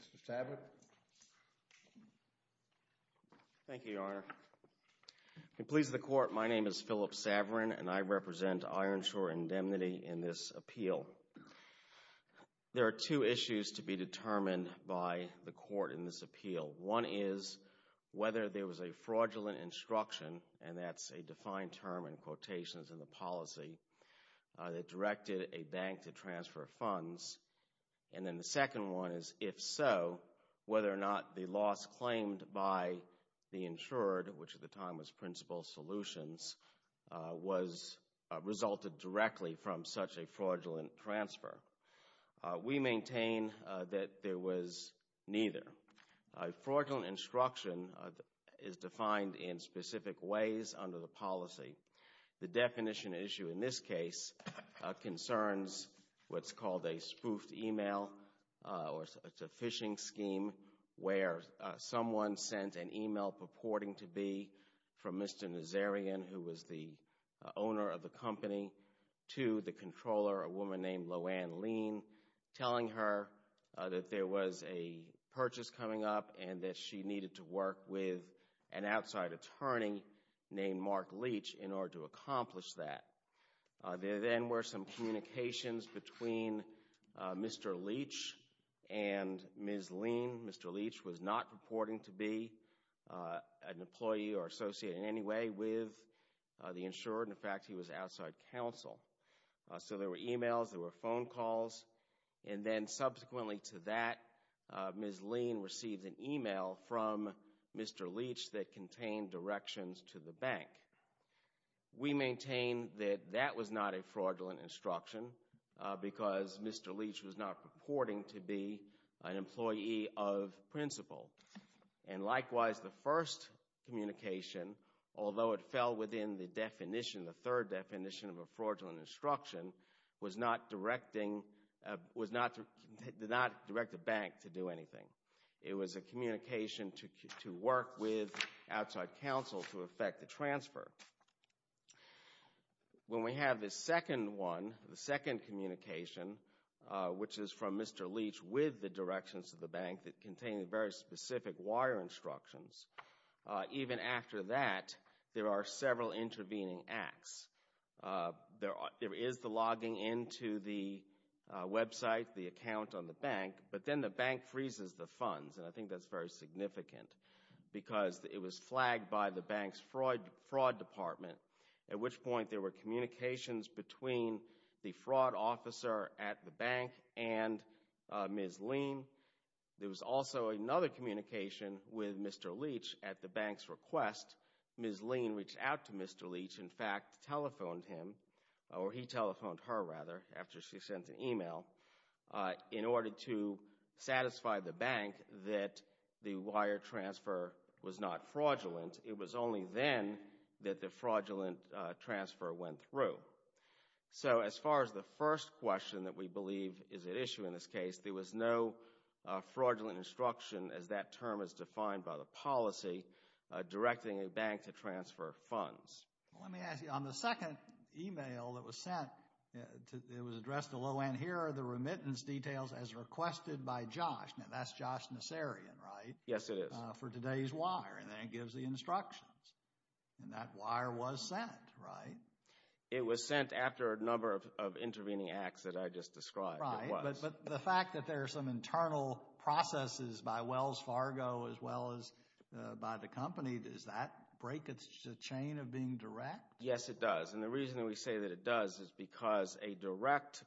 Mr. Saverin. Thank you, Your Honor. It pleases the Court, my name is Philip Saverin and I represent Ironshore Indemnity in this appeal. So, there are two issues to be determined by the Court in this appeal. One is whether there was a fraudulent instruction, and that's a defined term in quotations in the policy, that directed a bank to transfer funds. And then the second one is, if so, whether or not the loss claimed by the insured, which resulted directly from such a fraudulent transfer. We maintain that there was neither. Fraudulent instruction is defined in specific ways under the policy. The definition issue in this case concerns what's called a spoofed email or it's a phishing scheme where someone sent an email purporting to be from Mr. Nazarian, who was the owner of the company, to the controller, a woman named LoAnne Leach, telling her that there was a purchase coming up and that she needed to work with an outside attorney named Mark Leach in order to accomplish that. There then were some communications between Mr. Leach and Ms. Leach. Mr. Leach was not purporting to be an employee or associate in any way with the insured. In fact, he was outside counsel. So there were emails, there were phone calls, and then subsequently to that, Ms. Lean received an email from Mr. Leach that contained directions to the bank. We maintain that that was not a fraudulent instruction because Mr. Leach was not purporting to be an employee of principle. And likewise, the first communication, although it fell within the definition, the third definition of a fraudulent instruction, was not to direct the bank to do anything. It was a communication to work with outside counsel to effect the transfer. When we have this second one, the second communication, which is from Mr. Leach with the directions of the bank that contained very specific wire instructions, even after that, there are several intervening acts. There is the logging into the website, the account on the bank, but then the bank freezes the funds, and I think that's very significant because it was flagged by the bank's fraud department, at which point there were communications between the fraud officer at the bank and Ms. Lean. There was also another communication with Mr. Leach at the bank's request. Ms. Lean reached out to Mr. Leach, in fact, telephoned him, or he telephoned her, rather, after she sent an email, in order to satisfy the bank that the wire transfer was not fraudulent. It was only then that the fraudulent transfer went through. So, as far as the first question that we believe is at issue in this case, there was no fraudulent instruction, as that term is defined by the policy, directing a bank to transfer funds. Let me ask you, on the second email that was sent, it was addressed to Loanne, here are the remittance details as requested by Josh, now that's Josh Nassarian, right? Yes, it is. For today's wire, and then it gives the instructions, and that wire was sent, right? It was sent after a number of intervening acts that I just described. Right, but the fact that there are some internal processes by Wells Fargo, as well as by the company, does that break the chain of being direct? Yes, it does, and the reason that we say that it does is because a direct,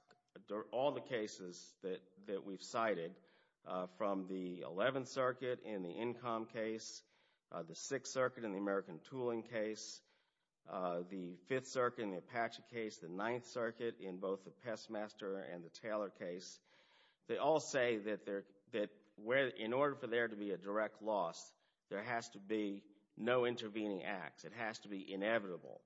all the cases that we've cited, from the 11th Circuit in the Incom case, the 6th Circuit in the American Circuit in the Apache case, the 9th Circuit in both the Pestmaster and the Taylor case, they all say that in order for there to be a direct loss, there has to be no intervening acts. It has to be inevitable.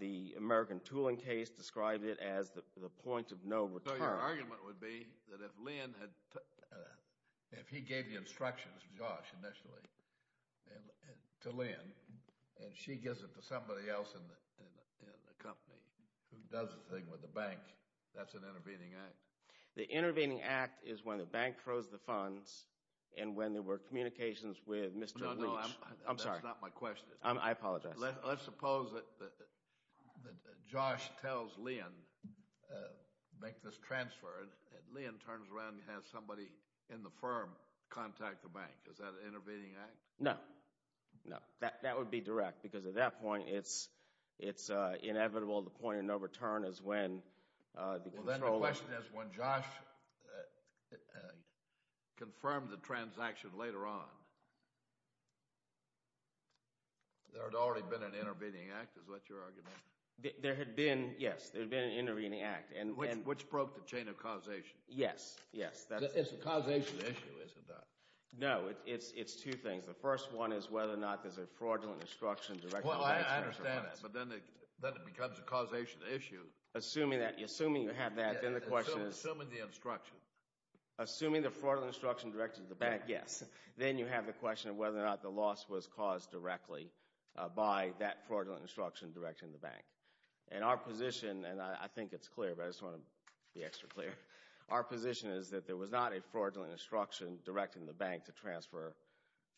The American Tooling case described it as the point of no return. So, your argument would be that if Lynn had, if he gave the instructions, Josh initially, to Lynn, and she gives it to somebody else in the company who does the thing with the bank, that's an intervening act? The intervening act is when the bank throws the funds, and when there were communications with Mr. Leach. No, no, I'm sorry. That's not my question. I apologize. Let's suppose that Josh tells Lynn, make this transfer, and Lynn turns around and has somebody in the firm contact the bank. Is that an intervening act? No. No. That would be direct, because at that point, it's inevitable, the point of no return is when... Well, then the question is, when Josh confirmed the transaction later on, there had already been an intervening act, is what your argument is? There had been, yes. There had been an intervening act. Which broke the chain of causation. Yes, yes. It's a causation issue, isn't it? No. It's two things. The first one is whether or not there's a fraudulent instruction directed to the bank. Well, I understand it, but then it becomes a causation issue. Assuming that, assuming you have that, then the question is... Assuming the instruction. Assuming the fraudulent instruction directed to the bank, yes. Then you have the question of whether or not the loss was caused directly by that fraudulent instruction directed to the bank. And our position, and I think it's clear, but I just want to be extra clear, our position is that there was not a fraudulent instruction directed to the bank to transfer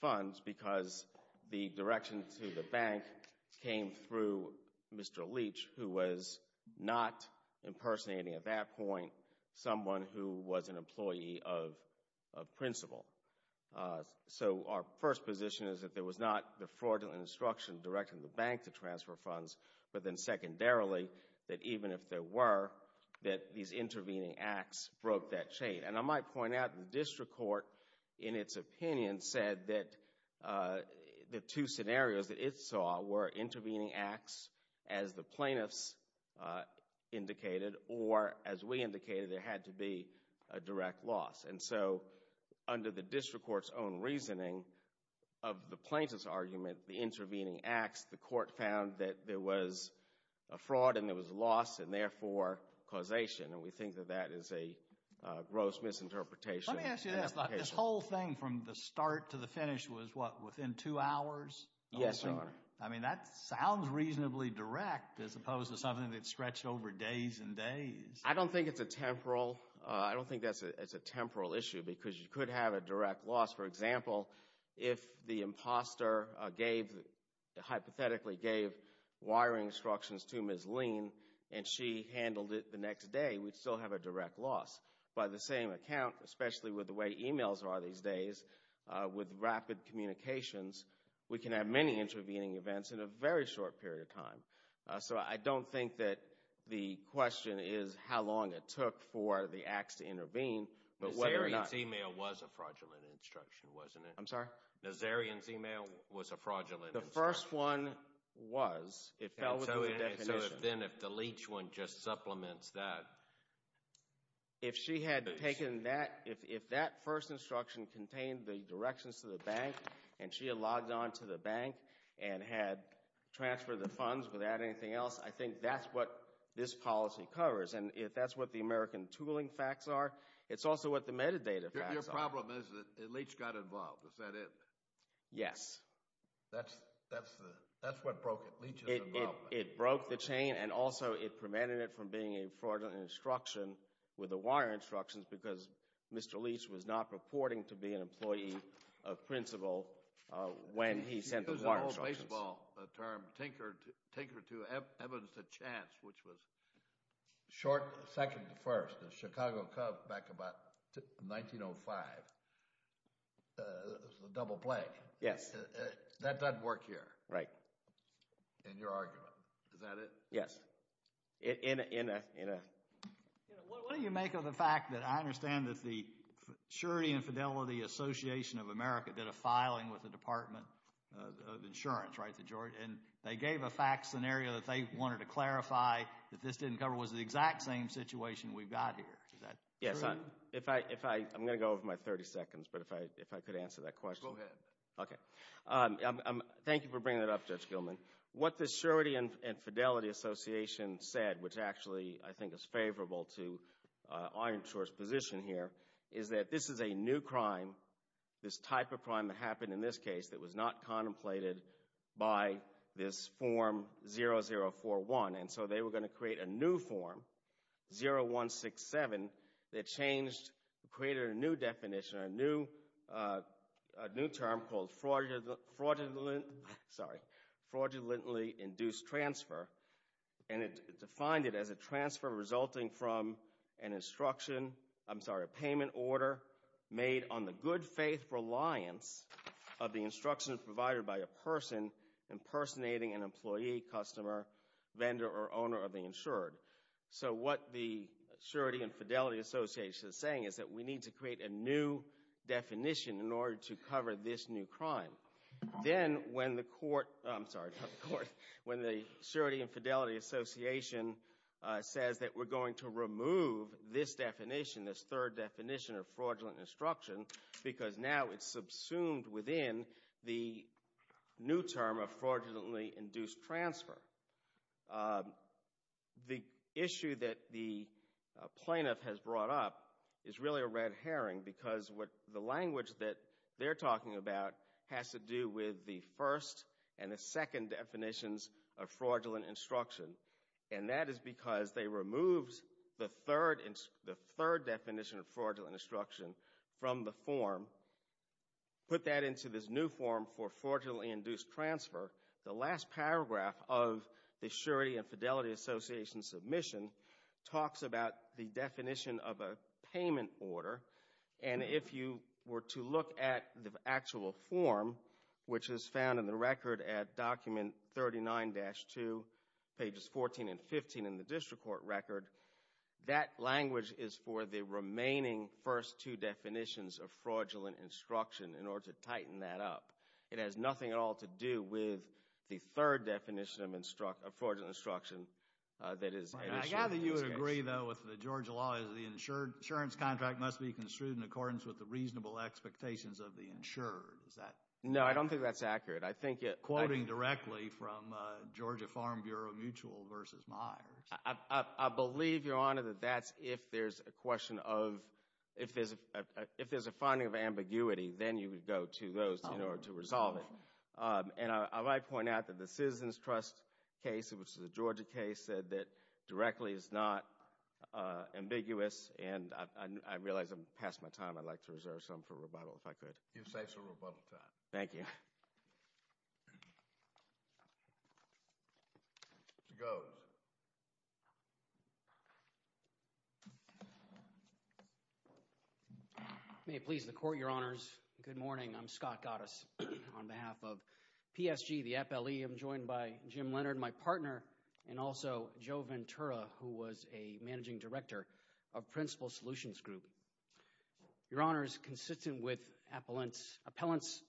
funds because the direction to the bank came through Mr. Leach, who was not impersonating at that point someone who was an employee of principle. So our first position is that there was not the fraudulent instruction directed to the bank to transfer funds, but then secondarily, that even if there were, that these intervening acts broke that chain. And I might point out the district court, in its opinion, said that the two scenarios that it saw were intervening acts, as the plaintiffs indicated, or as we indicated, there had to be a direct loss. And so under the district court's own reasoning of the plaintiff's argument, the intervening acts, the court found that there was a fraud and there was a loss, and therefore causation. And we think that that is a gross misinterpretation. Let me ask you this, this whole thing from the start to the finish was, what, within two hours? Yes, Your Honor. I mean, that sounds reasonably direct, as opposed to something that stretched over days and days. I don't think it's a temporal, I don't think that's a temporal issue, because you could have a direct loss. For example, if the imposter gave, hypothetically gave, wiring instructions to Ms. Lean, and she handled it the next day, we'd still have a direct loss. By the same account, especially with the way emails are these days, with rapid communications, we can have many intervening events in a very short period of time. So I don't think that the question is how long it took for the acts to intervene, but whether or not... Nazarian's email was a fraudulent instruction, wasn't it? I'm sorry? Nazarian's email was a fraudulent instruction. The first one was. It fell within the definition. So if then, if the Leach one just supplements that... If she had taken that, if that first instruction contained the directions to the bank, and she had logged on to the bank, and had transferred the funds without anything else, I think that's what this policy covers, and if that's what the American tooling facts are, it's also what the metadata facts are. Your problem is that Leach got involved, is that it? Yes. That's what broke it, Leach's involvement. It broke the chain, and also it prevented it from being a fraudulent instruction with the wire instructions, because Mr. Leach was not purporting to be an employee of principle when he sent the wire instructions. There's an old baseball term, Tinker to Evans to Chance, which was short, second to first. The Chicago Cubs, back about 1905, the double play. Yes. That doesn't work here. Right. In your argument. Is that it? Yes. In a... What do you make of the fact that I understand that the Surety and Fidelity Association of America did a filing with the Department of Insurance, right, and they gave a fact scenario that they wanted to clarify that this didn't cover, was the exact same situation we've got here. Is that true? Yes. If I... I'm going to go over my 30 seconds, but if I could answer that question. Go ahead. Okay. Thank you for bringing that up, Judge Gilman. What the Surety and Fidelity Association said, which actually I think is favorable to our insurer's position here, is that this is a new crime, this type of crime that happened in this case that was not contemplated by this Form 0041. And so they were going to create a new form, 0167, that changed, created a new definition, a new term called fraudulently induced transfer, and it defined it as a transfer resulting from an instruction, I'm sorry, a payment order made on the good faith reliance of the instruction provided by a person impersonating an employee, customer, vendor, or owner of the insured. So what the Surety and Fidelity Association is saying is that we need to create a new definition in order to cover this new crime. Then, when the court, I'm sorry, when the Surety and Fidelity Association says that we're going to remove this definition, this third definition of fraudulent instruction, because now it's subsumed within the new term of fraudulently induced transfer, the issue that the plaintiff has brought up is really a red herring because what the language that they're talking about has to do with the first and the second definitions of fraudulent instruction, and that is because they removed the third definition of fraudulent instruction from the form, put that into this new form for fraudulently induced transfer. The last paragraph of the Surety and Fidelity Association submission talks about the definition of a payment order, and if you were to look at the actual form, which is found in the record at document 39-2, pages 14 and 15 in the district court record, that language is for the remaining first two definitions of fraudulent instruction in order to tighten that up. It has nothing at all to do with the third definition of fraudulent instruction that is in this case. Right. I gather you would agree, though, with the Georgia law is the insurance contract must be construed in accordance with the reasonable expectations of the insured. Is that accurate? No, I don't think that's accurate. I think it— Quoting directly from Georgia Farm Bureau Mutual v. Myers. I believe, Your Honor, that that's if there's a question of—if there's a finding of ambiguity, then you would go to those in order to resolve it. And I might point out that the Citizens Trust case, which is a Georgia case, said that directly is not ambiguous, and I realize I'm past my time. I'd like to reserve some for rebuttal, if I could. You're safe for rebuttal time. Thank you. Mr. Goates. May it please the Court, Your Honors. Good morning. I'm Scott Goates on behalf of PSG, the appellee. I'm joined by Jim Leonard, my partner, and also Joe Ventura, who was a managing director of Principal Solutions Group. Your Honors, consistent with appellant's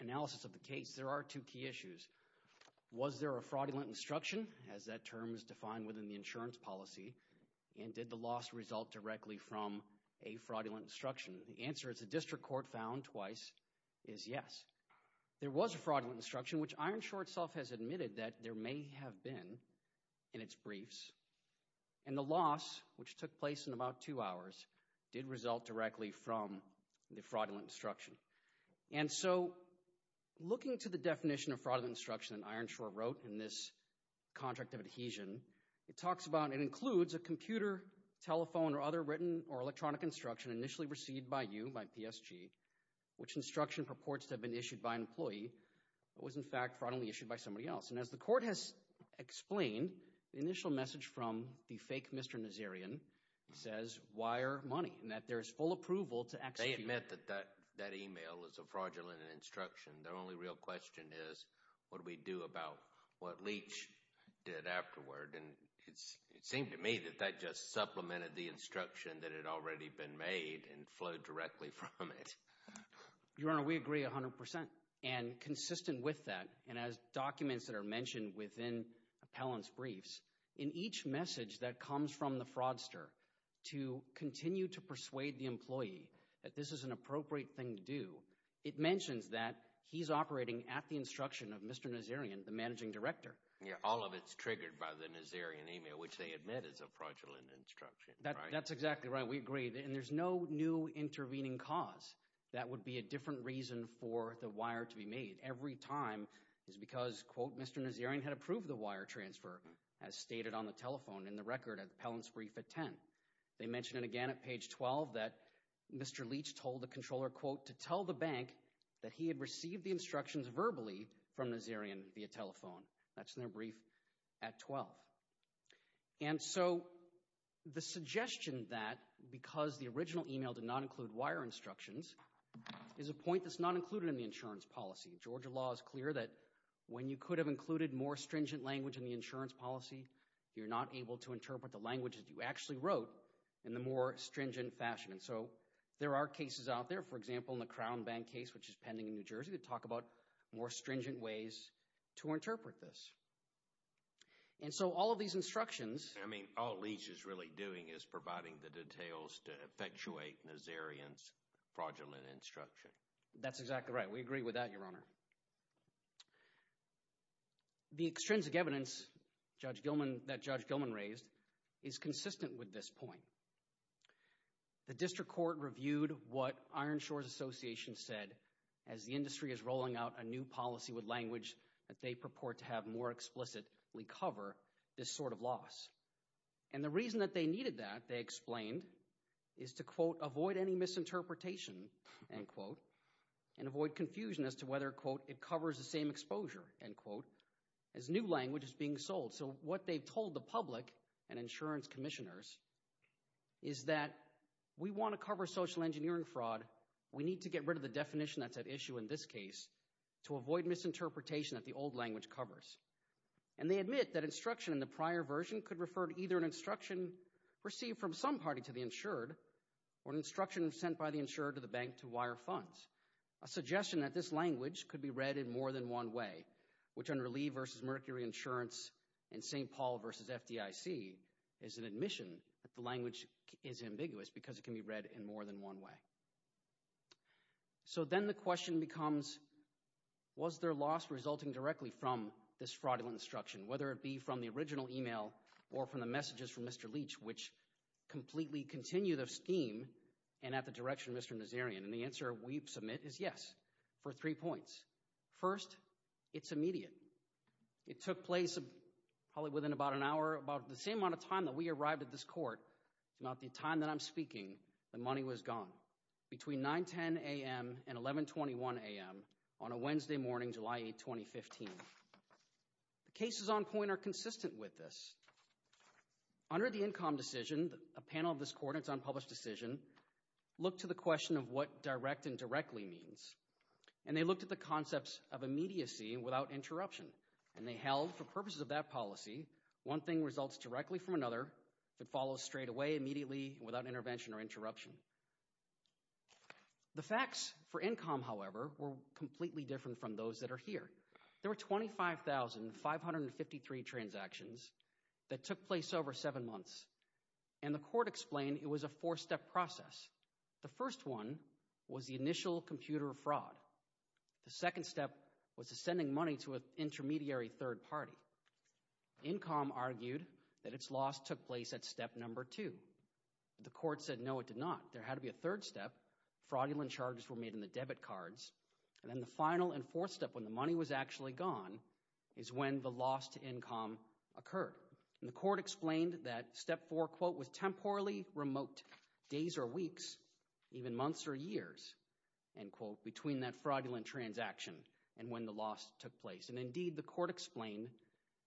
analysis of the case, there are two key issues. Was there a fraudulent instruction, as that term is defined within the insurance policy, and did the loss result directly from a fraudulent instruction? The answer, as the district court found twice, is yes. There was a fraudulent instruction, which Ironshore itself has admitted that there may have been in its briefs, and the loss, which took place in about two hours, did result directly from the fraudulent instruction. And so, looking to the definition of fraudulent instruction that Ironshore wrote in this contract of adhesion, it talks about, it includes a computer, telephone, or other written or electronic instruction initially received by you, by PSG, which instruction purports to have been issued by an employee, but was in fact fraudulently issued by somebody else. And as the court has explained, the initial message from the fake Mr. Nazarian says, wire money, and that there is full approval to execute. I admit that that email is a fraudulent instruction. The only real question is, what do we do about what Leach did afterward? And it seemed to me that that just supplemented the instruction that had already been made and flowed directly from it. Your Honor, we agree 100%, and consistent with that, and as documents that are mentioned within appellant's briefs, in each message that comes from the fraudster, to continue to persuade the employee that this is an appropriate thing to do, it mentions that he's operating at the instruction of Mr. Nazarian, the managing director. Yeah, all of it's triggered by the Nazarian email, which they admit is a fraudulent instruction. That's exactly right. We agree. And there's no new intervening cause. That would be a different reason for the wire to be made. Every time is because, quote, Mr. Nazarian had approved the wire transfer, as stated on the telephone in the record of the appellant's brief at 10. They mention it again at page 12 that Mr. Leach told the controller, quote, to tell the bank that he had received the instructions verbally from Nazarian via telephone. That's in their brief at 12. And so the suggestion that because the original email did not include wire instructions is a point that's not included in the insurance policy. Georgia law is clear that when you could have included more stringent language in the insurance policy, you're not able to interpret the language that you actually wrote in the more stringent fashion. And so there are cases out there, for example, in the Crown Bank case, which is pending in New Jersey, that talk about more stringent ways to interpret this. And so all of these instructions— I mean, all Leach is really doing is providing the details to effectuate Nazarian's fraudulent instruction. That's exactly right. We agree with that, Your Honor. The extrinsic evidence that Judge Gilman raised is consistent with this point. The district court reviewed what Iron Shores Association said as the industry is rolling out a new policy with language that they purport to have more explicitly cover this sort of loss. And the reason that they needed that, they explained, is to, quote, avoid any misinterpretation, end quote, and avoid confusion as to whether, quote, it covers the same exposure, end quote, as new language is being sold. So what they've told the public and insurance commissioners is that we want to cover social engineering fraud. We need to get rid of the definition that's at issue in this case to avoid misinterpretation that the old language covers. And they admit that instruction in the prior version could refer to either an instruction received from some party to the insured or an instruction sent by the insured to the bank to wire funds. A suggestion that this language could be read in more than one way, which on Relief versus Mercury Insurance and St. Paul versus FDIC is an admission that the language is ambiguous because it can be read in more than one way. So then the question becomes, was their loss resulting directly from this fraudulent instruction, whether it be from the original email or from the messages from Mr. Leach, which completely continued of steam and at the direction of Mr. Nazarian. And the answer we submit is yes for three points. First, it's immediate. It took place probably within about an hour, about the same amount of time that we arrived at this court, about the time that I'm speaking, the money was gone. Between 9, 10 a.m. and 11, 21 a.m. on a Wednesday morning, July 8, 2015. The cases on point are consistent with this. Under the Incom decision, a panel of this court, it's unpublished decision, looked to the question of what direct and directly means, and they looked at the concepts of immediacy without interruption. And they held for purposes of that policy, one thing results directly from another, if it follows straightaway, immediately, without intervention or interruption. The facts for Incom, however, were completely different from those that are here. There were 25,553 transactions that took place over seven months. And the court explained it was a four-step process. The first one was the initial computer fraud. The second step was sending money to an intermediary third party. Incom argued that its loss took place at step number two. The court said no, it did not. There had to be a third step. Fraudulent charges were made in the debit cards. And then the final and fourth step, when the money was actually gone, is when the loss to Incom occurred. And the court explained that step four, quote, was temporarily remote, days or weeks, even months or years, end quote, between that fraudulent transaction and when the loss took place. And indeed, the court explained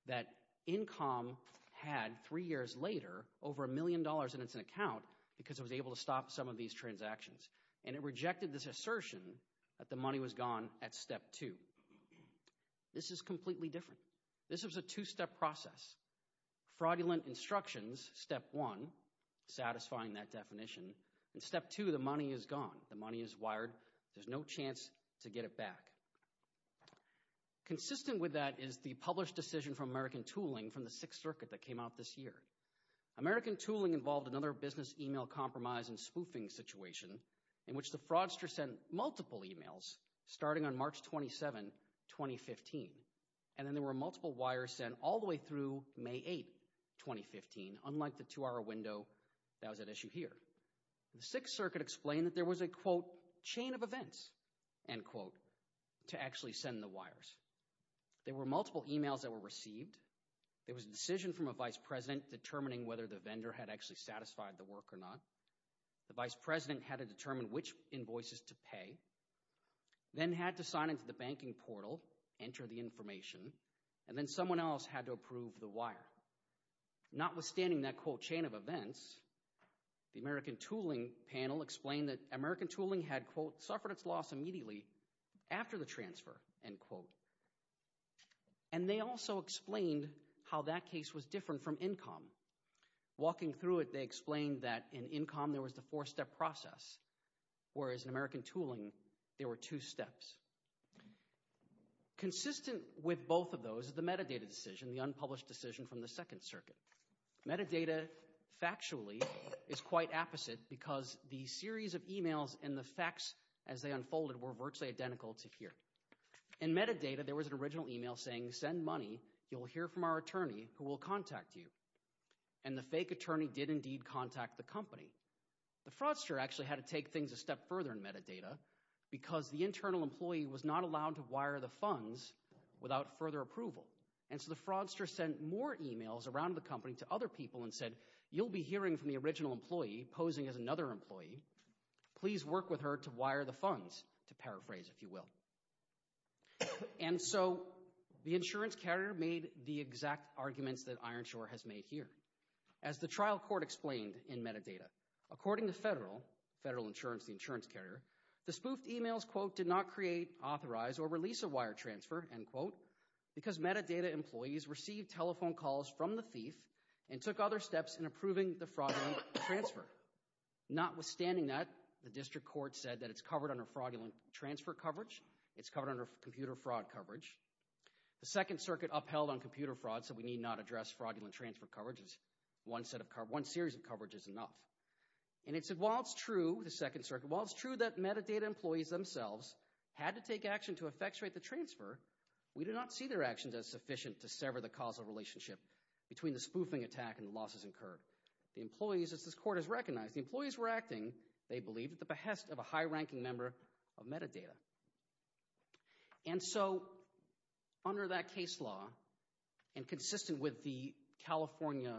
that Incom had, three years later, over a million dollars in its account because it was able to stop some of these transactions. And it rejected this assertion that the money was gone at step two. This is completely different. This was a two-step process. Fraudulent instructions, step one, satisfying that definition. And step two, the money is gone. The money is wired. There's no chance to get it back. Consistent with that is the published decision from American Tooling from the Sixth Circuit that came out this year. American Tooling involved another business email compromise and spoofing situation in which the fraudster sent multiple emails starting on March 27, 2015. And then there were multiple wires sent all the way through May 8, 2015, unlike the two-hour window that was at issue here. The Sixth Circuit explained that there was a, quote, chain of events, end quote, to actually send the wires. There were multiple emails that were received. There was a decision from a vice president determining whether the vendor had actually satisfied the work or not. The vice president had to determine which invoices to pay, then had to sign into the banking portal, enter the information, and then someone else had to approve the wire. Notwithstanding that, quote, chain of events, the American Tooling panel explained that American Tooling had, quote, suffered its loss immediately after the transfer, end quote. And they also explained how that case was different from Incom. Walking through it, they explained that in Incom there was the four-step process, whereas in American Tooling there were two steps. Consistent with both of those is the metadata decision, the unpublished decision from the Second Circuit. Metadata, factually, is quite opposite because the series of emails and the facts as they unfolded were virtually identical to here. In metadata, there was an original email saying, send money, you'll hear from our attorney who will contact you. And the fake attorney did indeed contact the company. The fraudster actually had to take things a step further in metadata because the internal employee was not allowed to wire the funds without further approval. And so the fraudster sent more emails around the company to other people and said, you'll be hearing from the original employee posing as another employee, please work with her to wire the funds, to paraphrase, if you will. And so the insurance carrier made the exact arguments that Ironshore has made here. As the trial court explained in metadata, according to federal, federal insurance, the insurance carrier, the spoofed emails, quote, did not create, authorize, or release a wire transfer, end quote, because metadata employees received telephone calls from the thief and took other steps in approving the fraudulent transfer. Notwithstanding that, the district court said that it's covered under fraudulent transfer coverage, it's covered under computer fraud coverage. The Second Circuit upheld on computer fraud, said we need not address fraudulent transfer coverage, one series of coverage is enough. And it said while it's true, the Second Circuit, while it's true that metadata employees themselves had to take action to effectuate the transfer, we do not see their actions as sufficient to sever the causal relationship between the spoofing attack and the losses incurred. The employees, as this court has recognized, the employees were acting, they believe, at the behest of a high-ranking member of metadata. And so, under that case law, and consistent with the California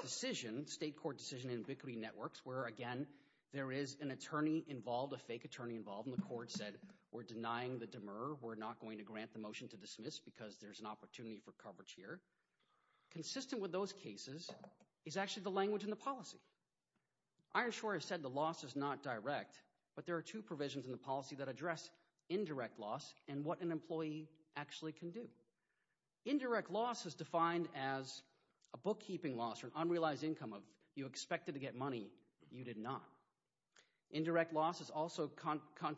decision, state court decision in Victory Networks, where again, there is an attorney involved, a fake attorney involved, and the court said we're denying the demur, we're not going to grant the motion to dismiss because there's an opportunity for coverage here. Consistent with those cases is actually the language in the policy. Ironshore has said the loss is not direct, but there are two provisions in the policy that address indirect loss and what an employee actually can do. Indirect loss is defined as a bookkeeping loss or an unrealized income of you expected to get money, you did not. Indirect loss is also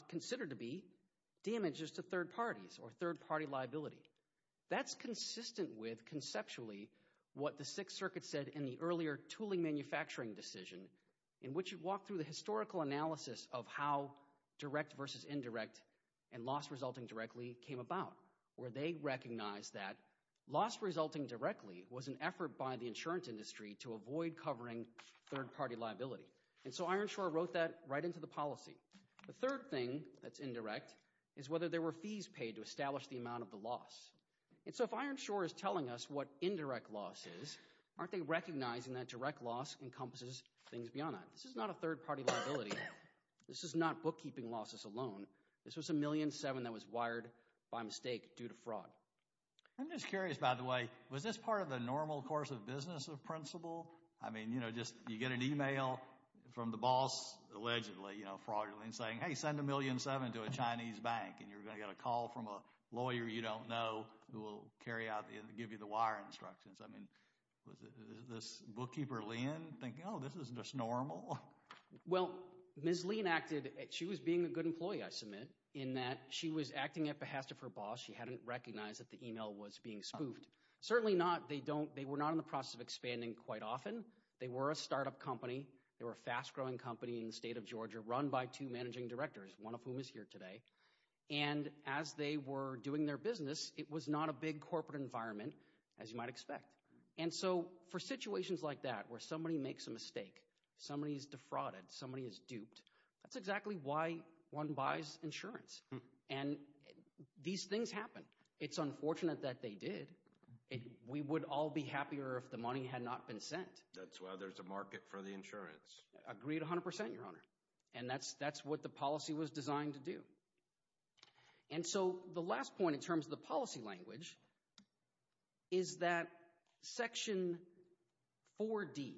considered to be damages to third parties or third party liability. That's consistent with, conceptually, what the Sixth Circuit said in the earlier tooling manufacturing decision, in which it walked through the historical analysis of how direct versus indirect and loss resulting directly came about, where they recognized that loss resulting directly was an effort by the insurance industry to avoid covering third party liability. And so, Ironshore wrote that right into the policy. The third thing that's indirect is whether there were fees paid to establish the amount of the loss. And so, if Ironshore is telling us what indirect loss is, aren't they recognizing that direct loss encompasses things beyond that? This is not a third party liability. This is not bookkeeping losses alone. This was a million seven that was wired by mistake due to fraud. I'm just curious, by the way, was this part of the normal course of business of principle? I mean, you know, just you get an email from the boss, allegedly, you know, fraudulently saying, hey, send a million seven to a Chinese bank, and you're going to get a call from a lawyer you don't know who will carry out, give you the wiring instructions. I mean, was this bookkeeper, Lien, thinking, oh, this is just normal? Well, Ms. Lien acted, she was being a good employee, I submit, in that she was acting at behest of her boss. She hadn't recognized that the email was being spoofed. Certainly not, they were not in the process of expanding quite often. They were a startup company. They were a fast-growing company in the state of Georgia, run by two managing directors, one of whom is here today. And as they were doing their business, it was not a big corporate environment, as you might expect. And so for situations like that, where somebody makes a mistake, somebody is defrauded, somebody is duped, that's exactly why one buys insurance. And these things happen. It's unfortunate that they did. We would all be happier if the money had not been sent. That's why there's a market for the insurance. Agreed 100%, Your Honor. And that's what the policy was designed to do. And so the last point in terms of the policy language is that Section 4D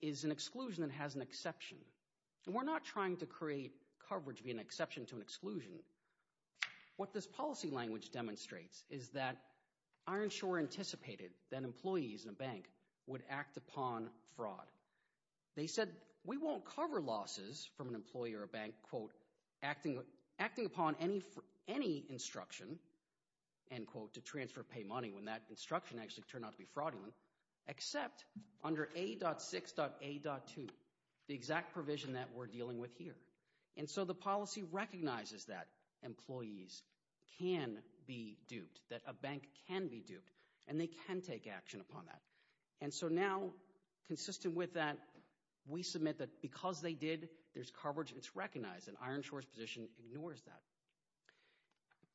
is an exclusion that has an exception. What this policy language demonstrates is that Ironshore anticipated that employees in a bank would act upon fraud. They said, we won't cover losses from an employee or a bank, quote, acting upon any instruction, end quote, to transfer or pay money when that instruction actually turned out to be fraudulent, except under A.6.A.2, the exact provision that we're dealing with here. And so the policy recognizes that employees can be duped, that a bank can be duped, and they can take action upon that. And so now, consistent with that, we submit that because they did, there's coverage, it's recognized, and Ironshore's position ignores that.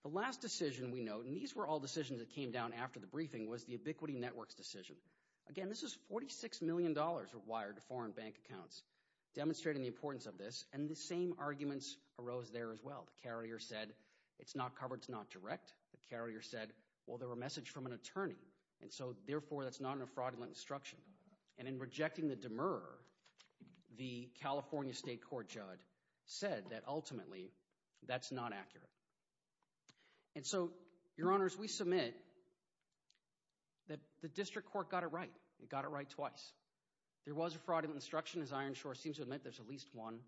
The last decision we note, and these were all decisions that came down after the briefing, was the Ubiquity Network's decision. Again, this is $46 million wired to foreign bank accounts, demonstrating the importance of this, and the same arguments arose there as well. The carrier said, it's not covered, it's not direct. The carrier said, well, they were messaged from an attorney, and so therefore, that's not a fraudulent instruction. And in rejecting the demurrer, the California state court judge said that ultimately, that's not accurate. And so, your honors, we submit that the district court got it right. It got it right twice. There was a fraudulent instruction, as Ironshore seems to admit, there's at least one.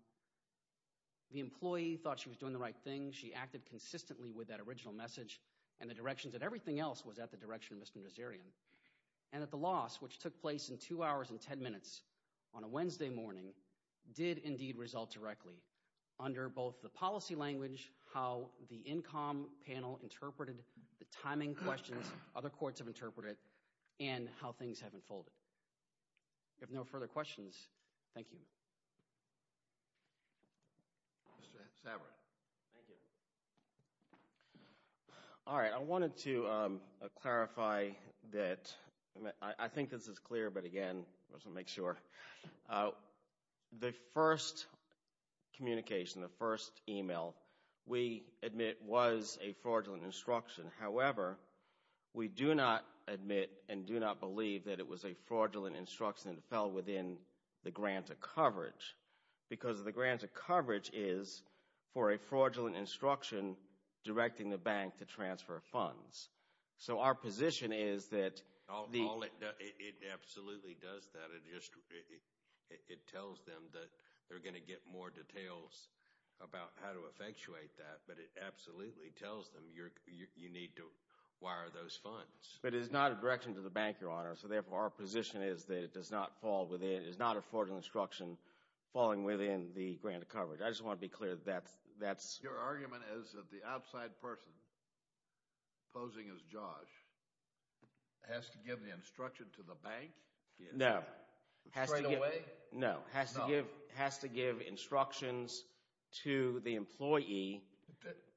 The employee thought she was doing the right thing. She acted consistently with that original message, and the directions that everything else was at the direction of Mr. Nazarian. And that the loss, which took place in two hours and ten minutes, on a Wednesday morning, did indeed result directly under both the policy language, how the INCOM panel interpreted the timing questions other courts have interpreted, and how things have unfolded. If there are no further questions, thank you. Mr. Sabret. Thank you. All right. I wanted to clarify that, I think this is clear, but again, just to make sure. The first communication, the first email, we admit was a fraudulent instruction. However, we do not admit and do not believe that it was a fraudulent instruction that fell within the grant of coverage. Because the grant of coverage is for a fraudulent instruction directing the bank to transfer funds. So, our position is that... It absolutely does that. It tells them that they're going to get more details about how to effectuate that. But it absolutely tells them you need to wire those funds. But it is not a direction to the bank, Your Honor. So, therefore, our position is that it does not fall within, it is not a fraudulent instruction falling within the grant of coverage. I just want to be clear that that's... Your argument is that the outside person, posing as Josh, has to give the instruction to the bank? No. Straight away? No. Has to give instructions to the employee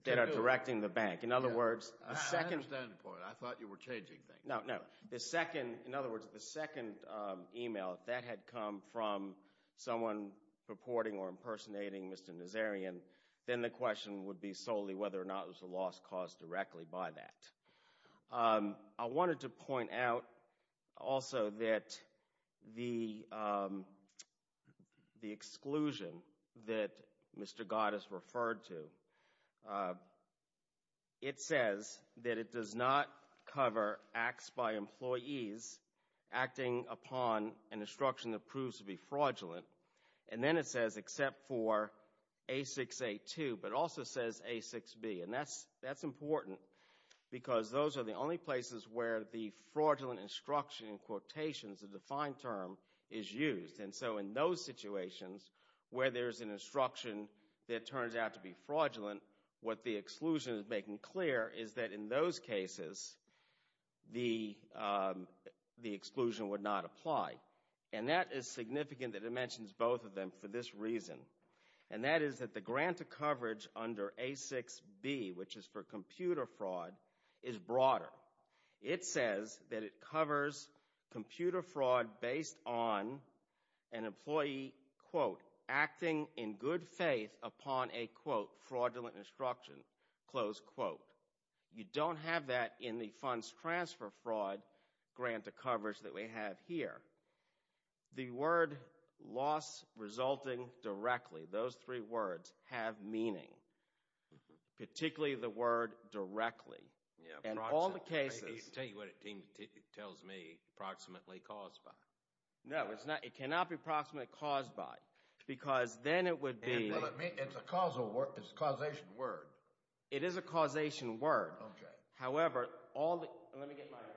that are directing the bank. In other words, the second... I understand the point. I thought you were changing things. No, no. The second, in other words, the second email, that had come from someone purporting or impersonating Mr. Nazarian, then the question would be solely whether or not it was a loss caused directly by that. I wanted to point out also that the exclusion that Mr. Goddess referred to, it says that it does not cover acts by employees acting upon an instruction that proves to be fraudulent. And then it says, except for A6A2, but it also says A6B. And that's important, because those are the only places where the fraudulent instruction in quotations, the defined term, is used. And so in those situations, where there's an instruction that turns out to be fraudulent, what the exclusion is making clear is that in those cases, the exclusion would not apply. And that is significant that it mentions both of them for this reason. And that is that the grant of coverage under A6B, which is for computer fraud, is broader. It says that it covers computer fraud based on an employee, quote, acting in good faith upon a, quote, fraudulent instruction, close quote. You don't have that in the funds transfer fraud grant of coverage that we have here. The word loss resulting directly, those three words, have meaning, particularly the word directly. And all the cases— I'll tell you what it tells me, approximately caused by. No, it cannot be approximately caused by, because then it would be— It's a causation word. It is a causation word. Okay. However, all the—let me get my notes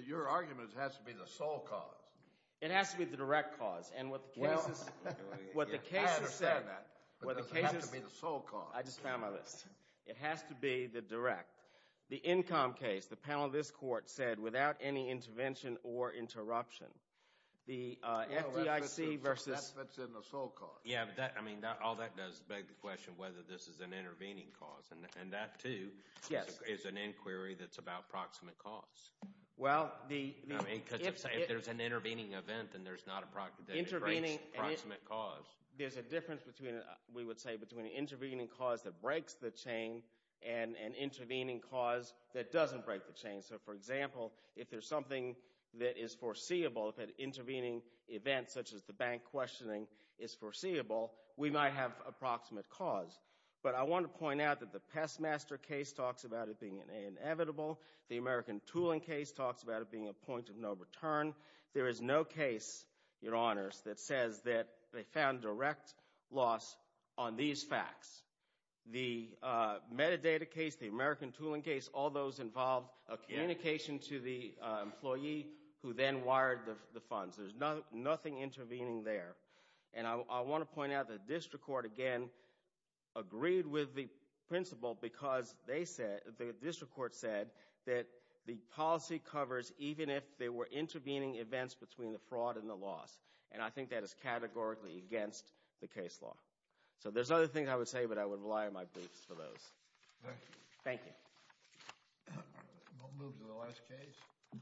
here. Your argument has to be the sole cause. It has to be the direct cause. And what the cases— Well, I understand that, but does it have to be the sole cause? I just found my list. It has to be the direct. The income case, the panel of this court said, without any intervention or interruption, the FDIC versus— That fits in the sole cause. Yeah, but that, I mean, all that does beg the question whether this is an intervening cause. And that, too, is an inquiry that's about proximate cause. Well, the— I mean, because if there's an intervening event, then there's not a proximate cause. There's a difference between, we would say, between an intervening cause that breaks the chain. So, for example, if there's something that is foreseeable, if an intervening event, such as the bank questioning, is foreseeable, we might have approximate cause. But I want to point out that the Pestmaster case talks about it being inevitable. The American tooling case talks about it being a point of no return. There is no case, Your Honors, that says that they found direct loss on these facts. The metadata case, the American tooling case, all those involved a communication to the employee who then wired the funds. There's nothing intervening there. And I want to point out that district court, again, agreed with the principle because they said, the district court said, that the policy covers even if there were intervening events between the fraud and the loss. And I think that is categorically against the case law. So there's other things I would say, but I would rely on my briefs for those. Thank you. Thank you. We'll move to the last case.